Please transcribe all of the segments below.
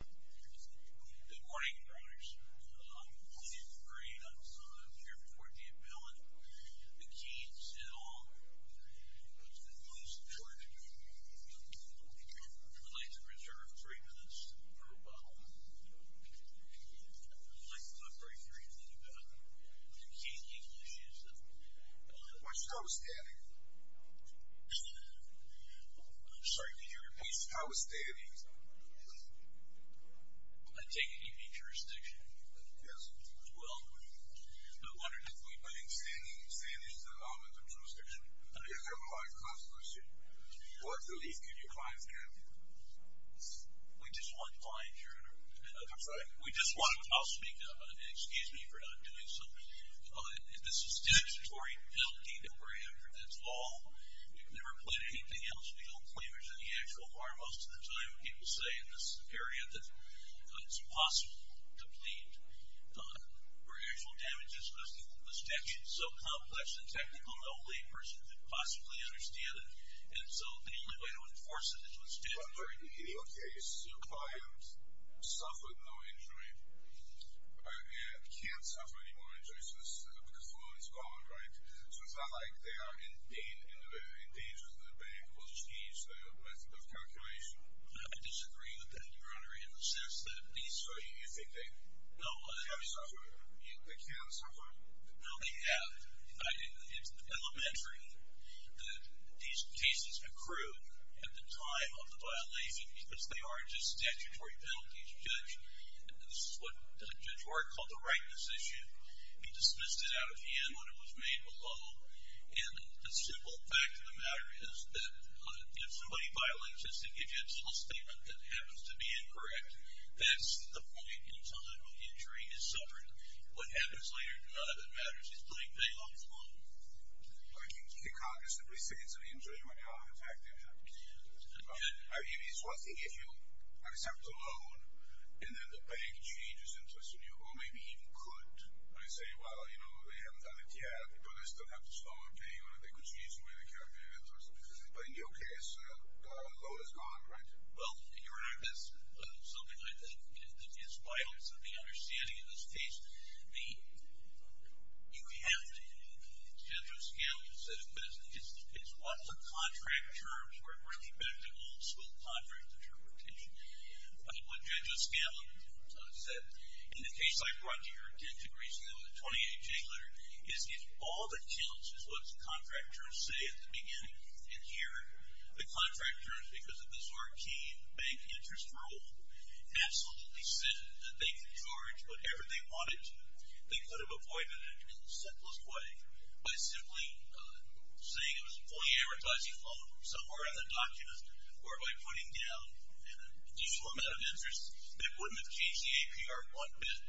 Good morning, brothers. My name is Ray. I'm the son of Chairman JPMorgan and Bill. The Keens, et al. It's been a long story. I'd like to reserve three minutes to go by one. I'd like to talk very briefly about the Keen-Keen issues. Watch where I was standing. Sorry, can you repeat? Watch where I was standing. I take it you need jurisdiction? Yes. Well, I wondered if we put in standing, standing is the element of jurisdiction. You have a life clause question. What relief can your clients get? We just want client juror. I'm sorry? We just want, I'll speak up. Excuse me for not doing so. This is statutory penalty number after this law. We've never put anything else beyond claimers in the actual bar. Most of the time people say in this area that it's possible to plead for actual damages because it was technically so complex and technical that only a person could possibly understand it. And so the only way to enforce it is with standing. I'm sorry, can you repeat? Your client suffered no injury, can't suffer any more injuries because the law is gone, right? So it's not like they are in danger that they will just use the method of calculation? I disagree with that, Your Honor, in the sense that at least... So you think they have suffered? They can suffer? No, they have. In fact, it's elementary that these cases accrue at the time of the violation because they are just statutory penalties. A judge, this is what Judge Ward called the rightness issue, he dismissed it out of hand when it was made below. And the simple fact of the matter is that if somebody violates this and gives you a statement that happens to be incorrect, that's the point until the injury is suffered. What happens later, Your Honor, that matters. He's putting payoffs on them. Well, you can't just simply say it's an injury, Your Honor. In fact, it is. I mean, it's one thing if you accept a loan, and then the bank changes interest on you, or maybe even could, and you say, well, you know, they haven't done it yet, but they still have this loan I'm paying them, and they could change the way they calculate interest on me. But in your case, the loan is gone, right? Well, Your Honor, that's something I think that is vital to the understanding in this case. You have to, on a general scale, it's what the contract terms were really meant to be, the old-school contract terms. What Judge O'Scallion said in the case I brought to your attention recently with the 28-J letter is if all that counts is what the contract terms say at the beginning, and here the contract terms, because of the Zorkian bank interest rule, absolutely said that they could charge whatever they wanted to, they could have avoided it in the simplest way by simply saying it was a fully advertising loan somewhere in the document, or by putting down an additional amount of interest. That wouldn't have changed the APR one bit.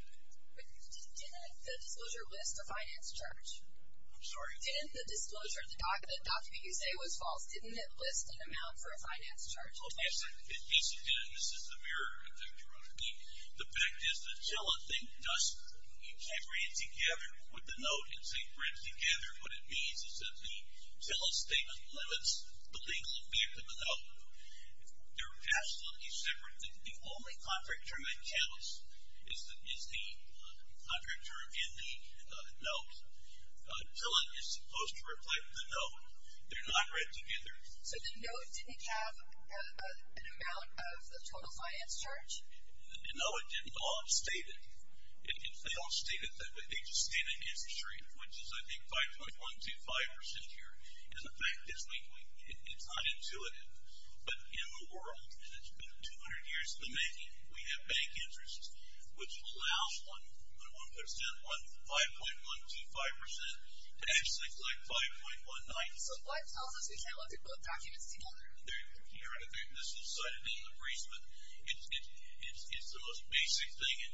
Didn't the disclosure list a finance charge? I'm sorry? Didn't the disclosure in the document you say was false? Didn't it list an amount for a finance charge? Well, yes, it did, and this is the mirror effect, Your Honor. The fact is that Tillon thinks he can't bring it together with the note and say bring it together. What it means is that Tillon's statement limits the legal view of the note. They're absolutely separate. The only contract term in Tillon's is the contract term in the note. Tillon is supposed to reflect the note. They're not read together. So the note didn't have an amount of the total finance charge? No, it didn't. They all state it. They all state it. They just stand against the street, which is, I think, 5.125% here. And the fact is, it's unintuitive, but in the world, and it's been 200 years in the making, we have bank interest, which allows the 1% on 5.125% to actually collect 5.19%. So why is it so difficult to put documents together? Your Honor, this is cited in the brief, but it's the most basic thing in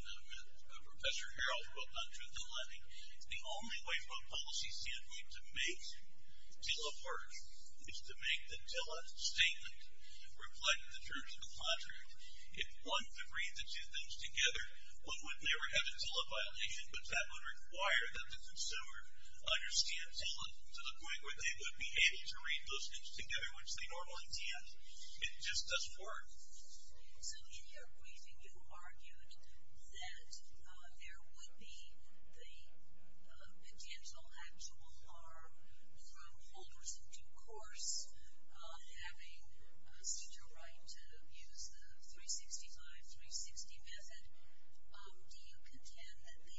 Professor Harrell's book on truth in lending. The only way for a policy standpoint to make Tillon work is to make the Tillon statement reflect the terms of the contract. If one could read the two things together, one would never have a Tillon violation, but that would require that the consumer understands Tillon to the point where they would be happy to read those things together, which they normally can't. It just doesn't work. So in your briefing, you argued that there would be the potential actual harm from holders in due course having such a right to use the 365, 360 method. Do you contend that the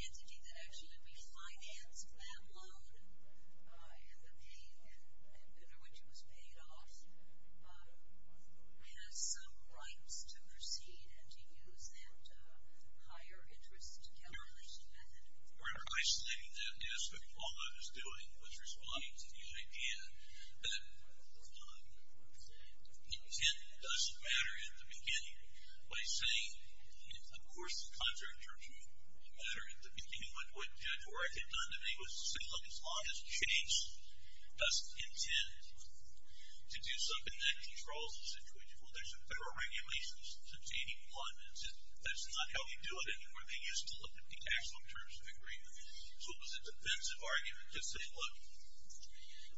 entity that actually refinanced that loan and the payment under which it was paid off has some rights to proceed and to use that higher interest calculation method? Your Honor, I say that yes, but all I was doing was responding to the idea that intent doesn't matter at the beginning. By saying, of course, the contract terms don't matter at the beginning, but what I had done to me was to say, look, as long as Chase doesn't intend to do something that controls the situation, well, there's a federal regulation substating one. That's not how we do it anymore. They used to look at the tax loan terms of agreement. So it was a defensive argument to say, look,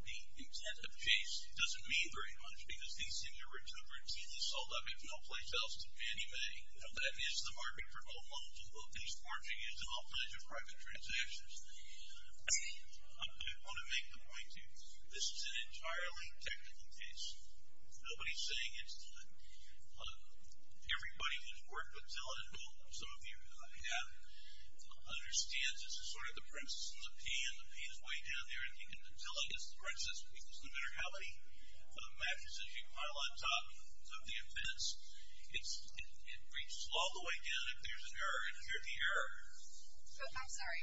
the intent of Chase doesn't mean very much because these things are routinely sold out of no place else to anybody. That is the market for old loans. These aren't being used in all kinds of private transactions. I do want to make the point to you, this is an entirely technical case. Nobody's saying it's done. Everybody who's worked with Zilla, and some of you have, understands this is sort of the princess and the pea, and the pea is way down there. In Zilla, for instance, no matter how many matches you pile on top of the offense, it reads all the way down. If there's an error, you hear the error. I'm sorry.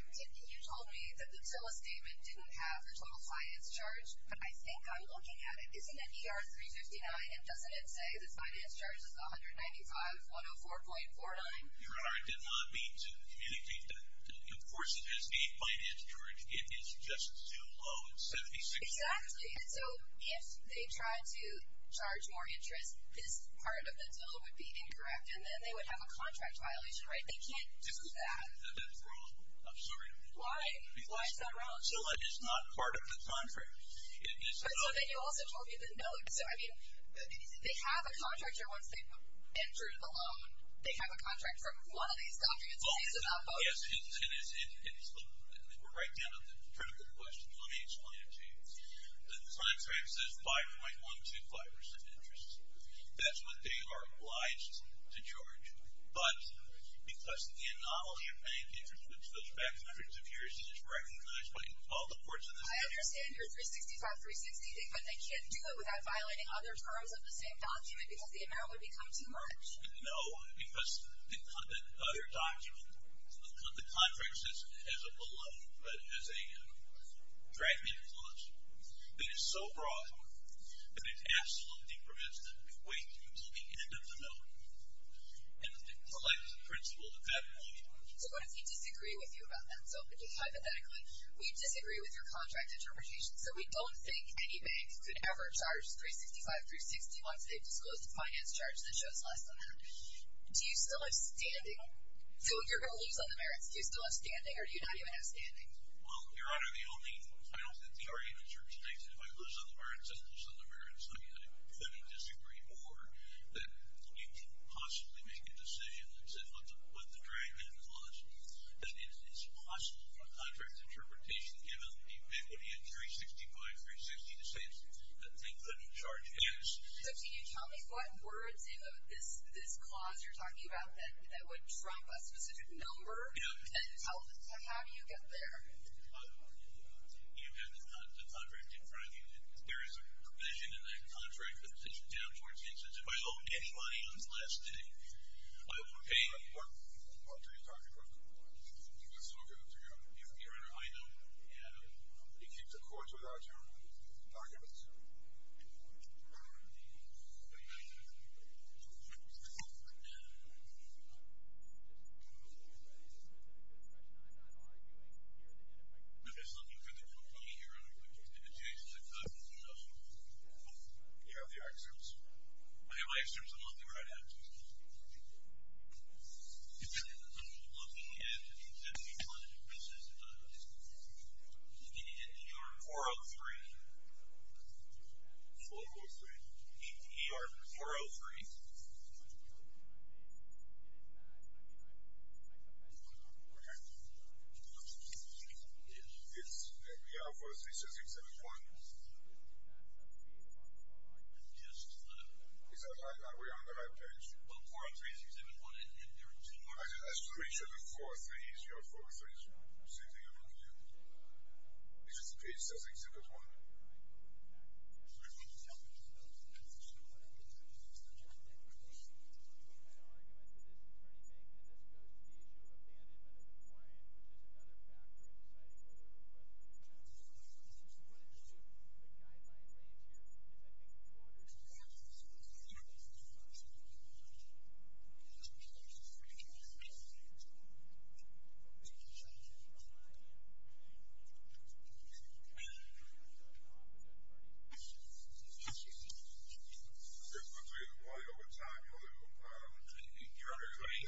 You told me that the Zilla statement didn't have a total finance charge, but I think I'm looking at it. Isn't that ER359, and doesn't it say the finance charge is 195,104.49? Your Honor, I did not mean to communicate that. Of course it has the finance charge. In fact, it is just too low at 76%. Exactly. So if they tried to charge more interest, this part of the Zilla would be incorrect, and then they would have a contract violation, right? They can't do that. That's wrong. I'm sorry. Why? Why is that wrong? Zilla is not part of the contract. So then you also told me the note. So, I mean, they have a contract here once they've entered the loan. They have a contract from one of these documents. It's about both. Yes, and we're right down to the critical question. Let me explain it to you. The contract says 5.125% interest. That's what they are obliged to charge, but because the anomaly of paying interest goes back hundreds of years, it is recognized by all the courts in this country. I understand your 365, 360, but they can't do it without violating other terms of the same document because the amount would become too much. No, because the other document, the contract says it has a dragnet clause that is so broad that it absolutely prevents them from going to the end of the note and the collective principle of that note. So what if we disagree with you about that? So hypothetically, we disagree with your contract interpretation. So we don't think any bank could ever charge 365, 360 once they've disclosed the finance charge that shows less than that. Do you still have standing? So if you're going to lose on the merits, do you still have standing, or do you not even have standing? Well, Your Honor, the only final theory in this court states that if I lose on the merits, I lose on the merits. I mean, I couldn't disagree more that you could possibly make a decision that said what the dragnet clause, that it's possible from contract interpretation that banks could give out a 50, a 365, 360 to say that they couldn't charge X. So can you tell me what words in this clause you're talking about that would drop a specific number? And how do you get there? You have the contract in front of you. There is a provision in that contract that sits down towards the instance if I owe any money on the last day, I will pay. What are you talking about? It's all good. Your Honor, I know. He keeps accords with our terms. What are you talking about? I don't know. What are you talking about? I don't know. It's looking good to me. It's looking good to me, Your Honor. You have the axioms. I have my axioms. I'm looking right at it. I'm looking at the 403. 403. ER 403. It's ER 403, 6671. Is that right? Are we on the right page? I'm pretty sure the 403 is ER 403. It's page 6671. Your Honor, is there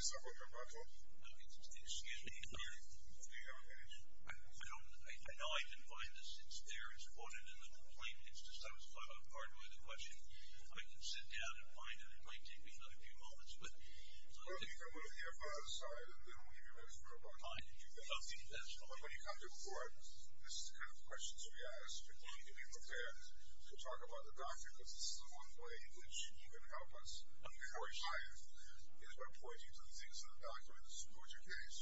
anything on that? I don't know. I've been finding this since there, as quoted in the complaint. It's just, I was caught off guard by the question. If I can sit down and find it, it might take me another few moments. But. Well, you can go to the other side, and then we'll give you a medical report. All right. That's fine. But when you come to court, this is the kind of questions we ask. You need to be prepared to talk about the doctor, because this is the one way in which you can help us. Before you try it, is by pointing to the things in the document that support your case.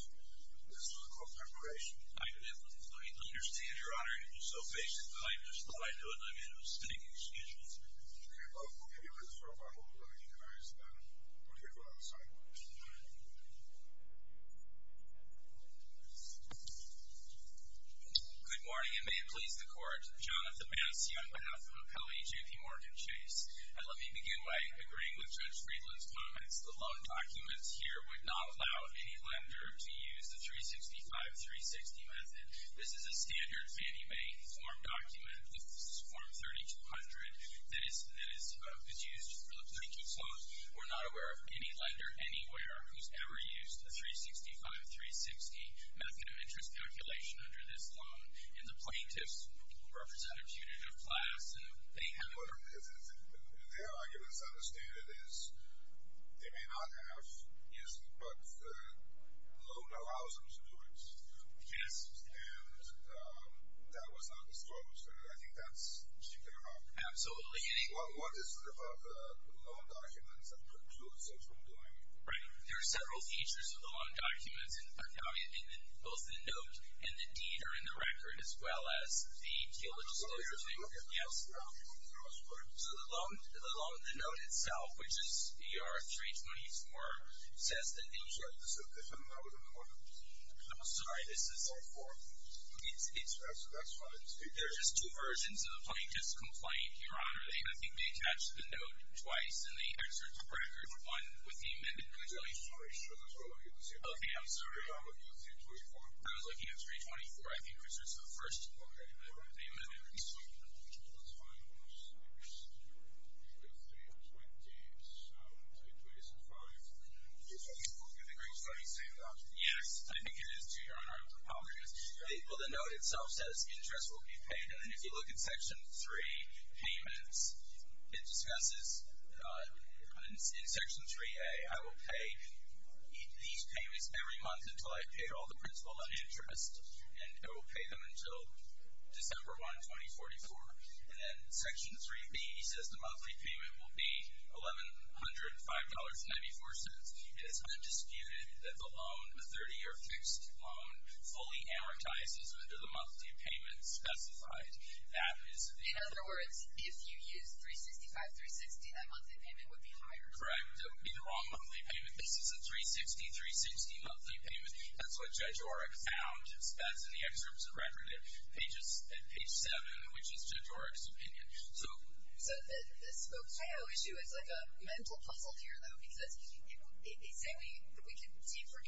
This is called preparation. I understand, Your Honor. You're so patient. I just thought I'd do it, and I made a mistake in schedules. Okay. Well, we'll give you a list for a while. We'll go to you guys, and then we'll go to the other side. Good morning, and may it please the Court. Jonathan Bassey on behalf of Appellee J.P. Morgan Chase. And let me begin by agreeing with Judge Friedland's comments. The loan documents here would not allow any lender to use the 365-360 method. This is a standard Fannie Mae form document. That is used for the plaintiff's loans. We're not aware of any lender anywhere who's ever used a 365-360 method of interest calculation under this loan. And the plaintiffs represent a punitive class, and they haven't. Their argument, as I understand it, is they may not have, but the loan allows them to do it. Yes. And that was not disclosed. I think that's what you're talking about. Absolutely. Well, what is it about the loan documents that precludes them from doing it? Right. There are several features of the loan documents, and both the note and the deed are in the record, as well as the appeal legislation. Yes. So the loan, the note itself, which is ER-324, says that they need to… I'm sorry. This is a different note in the form. I'm sorry. This is… That's fine. There are just two versions of the plaintiff's complaint, Your Honor. I think they attached the note twice, and they exert the record one with the amendment legislation. I'm sorry. Sure. That's what I was looking to see. Okay. I'm sorry. ER-324. I was looking at ER-324. I think that's the first amendment. Okay. That's fine. I'm sorry. ER-327. I'm sorry. ER-325. I'm sorry. Do you agree with what he's saying, Your Honor? Yes. I think it is true, Your Honor. I apologize. Well, the note itself says interest will be paid, and if you look at Section 3, payments, it discusses in Section 3A, I will pay these payments every month until I've paid all the principal and interest, and I will pay them until December 1, 2044. And then Section 3B says the monthly payment will be $1,105.94. And it's undisputed that the loan, the 30-year fixed loan, fully amortizes under the monthly payment specified. In other words, if you use 365-360, that monthly payment would be higher. Correct. It would be the wrong monthly payment. This is a 360-360 monthly payment. That's what Judge Oreck found. That's in the excerpts of record at page 7, which is Judge Oreck's opinion. So, the Spokaeo issue is like a mental puzzle here, though, because they say we can see for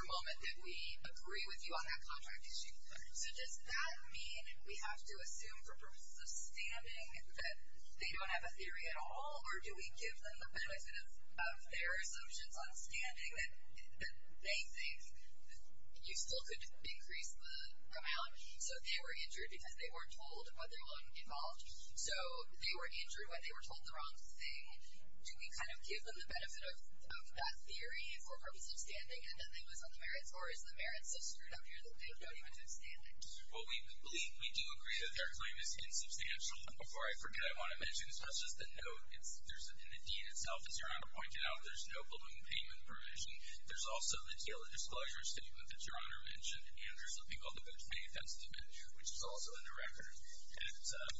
a moment that we agree with you on that contract issue. So, does that mean we have to assume for purposes of standing that they don't have a theory at all, or do we give them the benefit of their assumptions on standing that they think you still could increase the amount so they were injured because they weren't told what to do with their loan involved? So, they were injured when they were told the wrong thing. Do we kind of give them the benefit of that theory for purposes of standing, and then they lose all the merits? Or is the merit so screwed up here that they don't even do standing? Well, we believe, we do agree that their claim is insubstantial. Before I forget, I want to mention, so that's just a note. In the deed itself, as Your Honor pointed out, there's no balloon payment permission. There's also the dealer disclosure statement that Your Honor mentioned, and there's a record at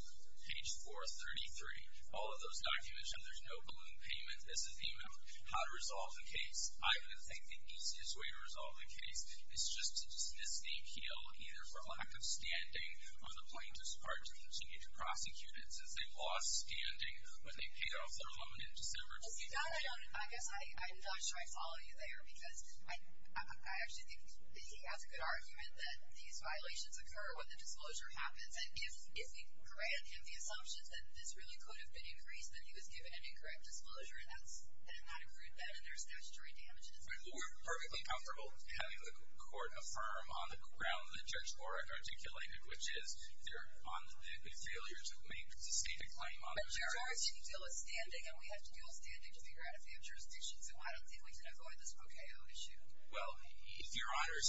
page 433. All of those documents show there's no balloon payment. This is the amount. How to resolve the case. I would think the easiest way to resolve the case is just to dismiss the appeal, either for lack of standing or the plaintiff's part to continue to prosecute it since they lost standing when they paid off their loan in December 2018. No, no, no. I guess I'm not sure I follow you there because I actually think he has a good argument that these violations occur when the disclosure happens. And if we grant him the assumption that this really could have been increased, that he was given an incorrect disclosure, and that it not include that, and there's statutory damages. We're perfectly comfortable having the court affirm on the ground that Judge Borak articulated, which is they're on the failure to make sustained a claim on the charge. But Judge Borak said you deal with standing, and we have to deal with standing to figure out if they have jurisdictions. And why don't you think we can avoid this OKO issue? Well, if Your Honors,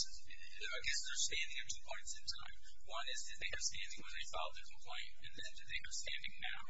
I guess there's standing at two points in time. One is did they have standing when they filed their complaint, and then did they have standing now?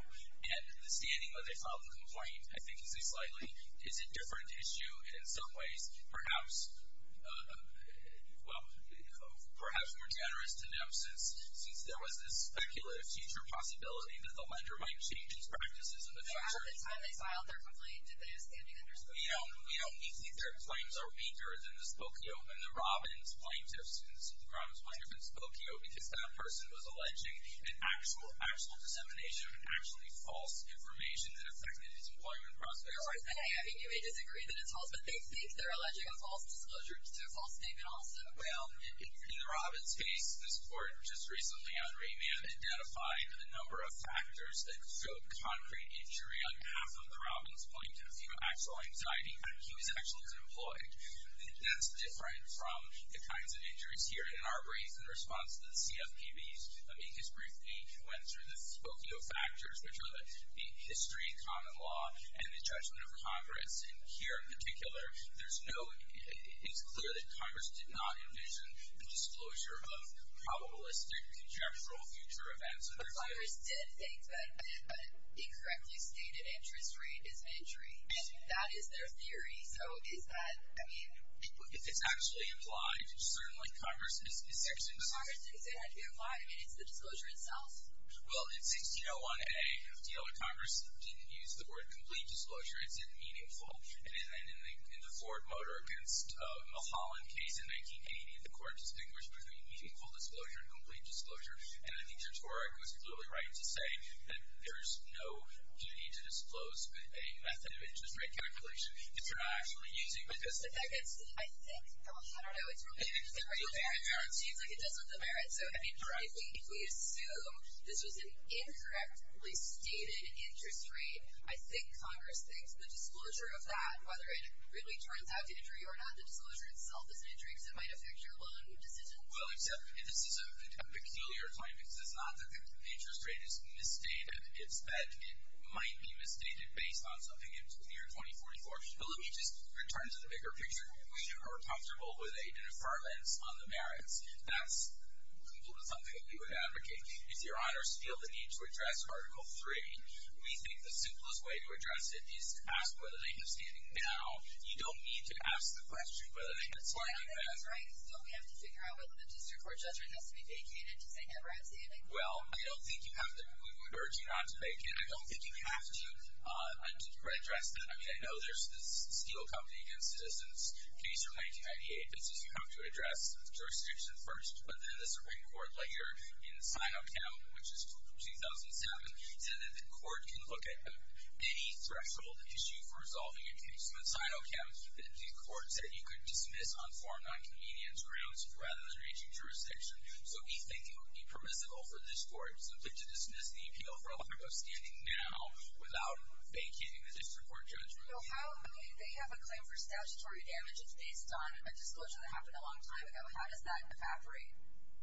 And the standing when they filed the complaint, I think is a slightly, is a different issue in some ways. Perhaps, well, perhaps more generous to them since there was this speculative future possibility that the lender might change its practices in the future. So after the time they filed their complaint, did they have standing under scope? We don't, we don't think their claims are weaker than the Spokio and the Robbins plaintiffs and the Robbins plaintiffs in Spokio because that person was alleging an actual, actual dissemination of actually false information that affected his employment prospects. Your Honors, I mean, you may disagree that it's false, but they think they're alleging a false disclosure. It's a false statement also. Well, in the Robbins case, this court just recently on remand identified a number of He was actually unemployed. That's different from the kinds of injuries here in our race in response to the CFPB's brief date went through the Spokio factors, which are the history, common law, and the judgment of Congress. And here in particular, there's no, it's clear that Congress did not envision the disclosure of probabilistic, conjectural future events. But Congress did think that the incorrectly stated interest rate is an injury. And that is their theory. So is that, I mean. If it's actually implied, certainly Congress is. Congress didn't say it had to be implied. I mean, it's the disclosure itself. Well, in 1601A, if the other Congress didn't use the word complete disclosure, it said meaningful. And in the Ford Motor against Mulholland case in 1980, the court distinguished between meaningful disclosure and complete disclosure. And I think Judge Horak was clearly right to say that there's no duty to disclose a method of interest rate calculation if you're not actually using it. But that gets to the, I think, I don't know, it's related. It seems like it does have the merit. So I mean, if we assume this was an incorrectly stated interest rate, I think Congress thinks the disclosure of that, whether it really turns out to be an injury or not, the disclosure itself is an injury because it might affect your loan decision. Well, except this is a peculiar time because it's not that the interest rate is misstated. It's that it might be misstated based on something in the year 2044. But let me just return to the bigger picture. We are comfortable with a different lens on the merits. That's completely something that we would advocate. If your honors feel the need to address Article III, we think the simplest way to address it is to ask whether they have standing. Now, you don't need to ask the question whether they have standing. That's right. That's right. So we have to figure out whether the district court judgment has to be vacated to say, have I have standing? Well, I don't think you have to. We would urge you not to vacate. I don't think you have to address that. I mean, I know there's this Steel Company against Citizens case from 1998. It says you have to address jurisdiction first, but then the Supreme Court later in Sinochem, which is 2007, said that the court can look at any threshold issue for resolving a case. In Sinochem, the court said you could dismiss on foreign nonconvenience grounds rather than reaching jurisdiction. So we think it would be permissible for this court to submit to dismiss the appeal for a lack of standing now without vacating the district court judgment. Well, how? I mean, they have a claim for statutory damage. It's based on a disclosure that happened a long time ago. How does that evaporate?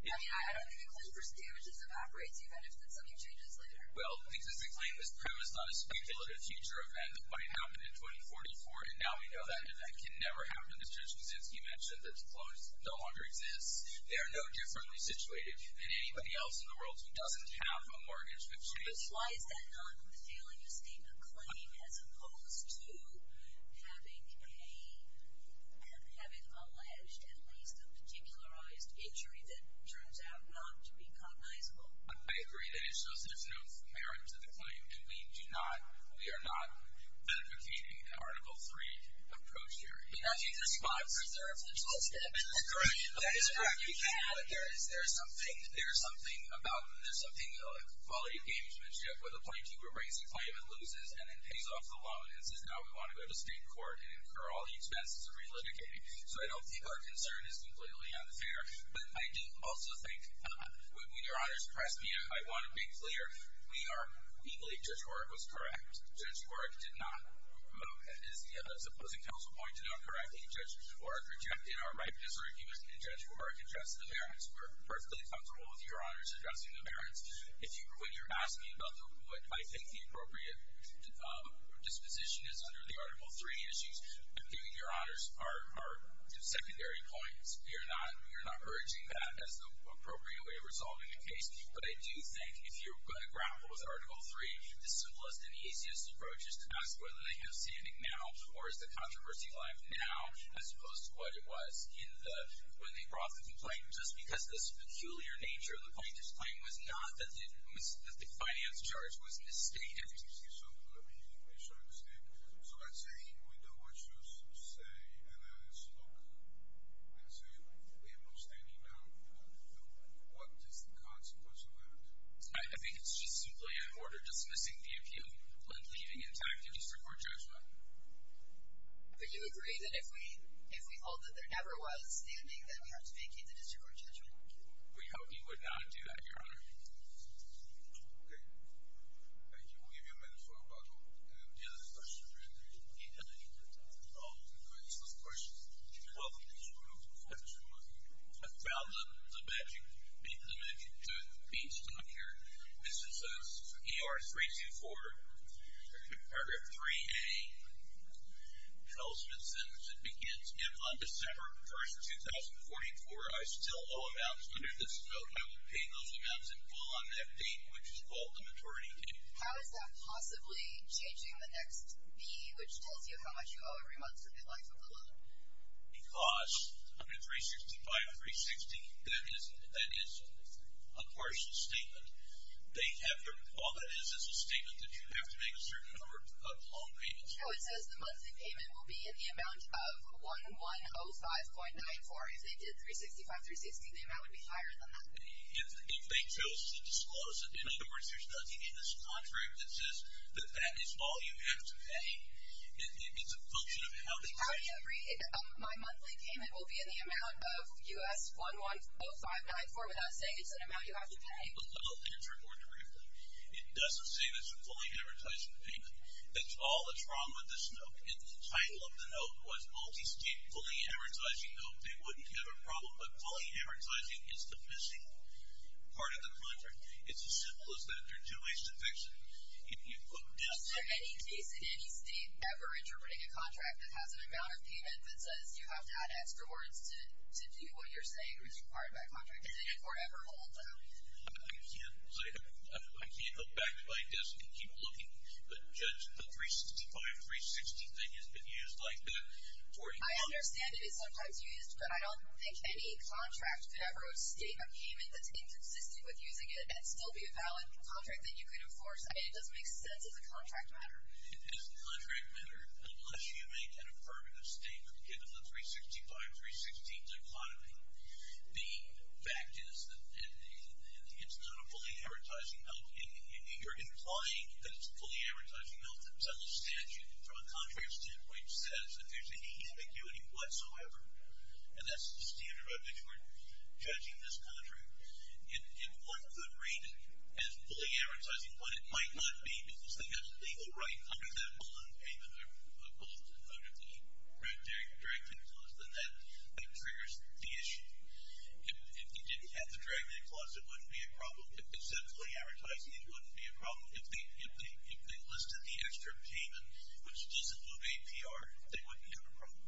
I mean, I don't think a claim for damages evaporates even if something changes later. Well, because the claim is premised on a speculative future event that might happen in 2044, and now we know that event can never happen. Mr. Kaczynski mentioned that disclosures no longer exist. They are no differently situated than anybody else in the world who doesn't have a mortgage which is. But why is that not the failing to state a claim as opposed to having a, having alleged at least a particularized injury that turns out not to be cognizable? I agree that it shows that there's no merit to the claim, and we do not, we are not beneficiating the Article III approach here. In 1935, was there a financial damage? That is correct. That is correct. You can't deny that there is. There's something, there's something about, there's something about the quality of gamesmanship where the point keeper brings a claim and loses and then pays off the loan and says now we want to go to state court and incur all the expenses of re-litigating. So I don't think our concern is completely unfair. But I do also think, when Your Honors pressed me, I want to be clear. We are, we believe Judge Horak was correct. Judge Horak did not, as opposed to counsel pointed out correctly, Judge Horak rejected our right to disargue with Judge Horak addressed the merits. We're perfectly comfortable with Your Honors addressing the merits. If you, when you're asking about what I think the appropriate disposition is under the Article III issues, I think Your Honors are secondary points. You're not, you're not urging that as the appropriate way of resolving the case. But I do think if you're going to grapple with Article III, the simplest and easiest approach is to ask whether they have standing now or is the controversy live now as opposed to what it was in the, when they brought the complaint. Just because of this peculiar nature of the complaint, this claim was not that the, that the finance charge was misstated. So let me make sure I understand. So by saying we know what you say and I spoke, so we have no standing now. What is the consequence of that? I think it's just simply an order dismissing the appeal, like leaving intact the district court judgment. But you agree that if we, if we hold that there never was standing, then we have to vacate the district court judgment? We hope you would not do that, Your Honor. Okay. Thank you. We'll give you a minute for rebuttal. Any other questions or anything? I don't think we have any time at all for questions. Welcome to this room. Go ahead. I found the magic, the magic tooth piece down here. This is ER 324, Paragraph 3A, an ultimate sentence. It begins, if on December 1, 2044, I still owe amounts under this vote, I will pay those amounts in full on that date, which is called the maturity date. How is that possibly changing the next B, which tells you how much you owe every month for the life of the loan? Because under 365, 360, that is a partial statement. All that is is a statement that you have to make a certain number of loan payments. No, it says the monthly payment will be in the amount of 1,105.94. If they did 365, 360, the amount would be higher than that. If they chose to disclose it, in other words there's nothing in this contract that says that that is all you have to pay. It's a function of how they pay. How do you agree that my monthly payment will be in the amount of U.S. 1,105.94 without saying it's an amount you have to pay? I'll answer more briefly. It doesn't say that it's a fully advertised payment. That's all that's wrong with this note. If the title of the note was multi-stage fully advertising note, they wouldn't have a problem. But fully advertising is the missing part of the contract. It's as simple as that. There are two ways to fix it. If you put this. Is there any case in any state ever interpreting a contract that has an amount of payment that says you have to add extra words to do what you're saying which is required by contract? Is it an forever hold? I can't go back to my desk and keep looking, but the 365, 360 thing has been used like that for a long time. I understand it is sometimes used, but I don't think any contract could ever state a payment that's inconsistent with using it and still be a valid contract that you could enforce. It doesn't make sense as a contract matter. It is a contract matter unless you make an affirmative statement, given the 365, 360 dichotomy. The fact is that it's not a fully advertising note. You're implying that it's a fully advertising note. Some statute, from a contract standpoint, says that there's any ambiguity whatsoever, and that's the standard by which we're judging this contract. In one good reason, as fully advertising, when it might not be because they have a legal right under that bond payment, or both out of the direct clause, then that triggers the issue. If you didn't have the direct clause, it wouldn't be a problem. If they listed the extra payment, which doesn't move APR, they wouldn't have a problem.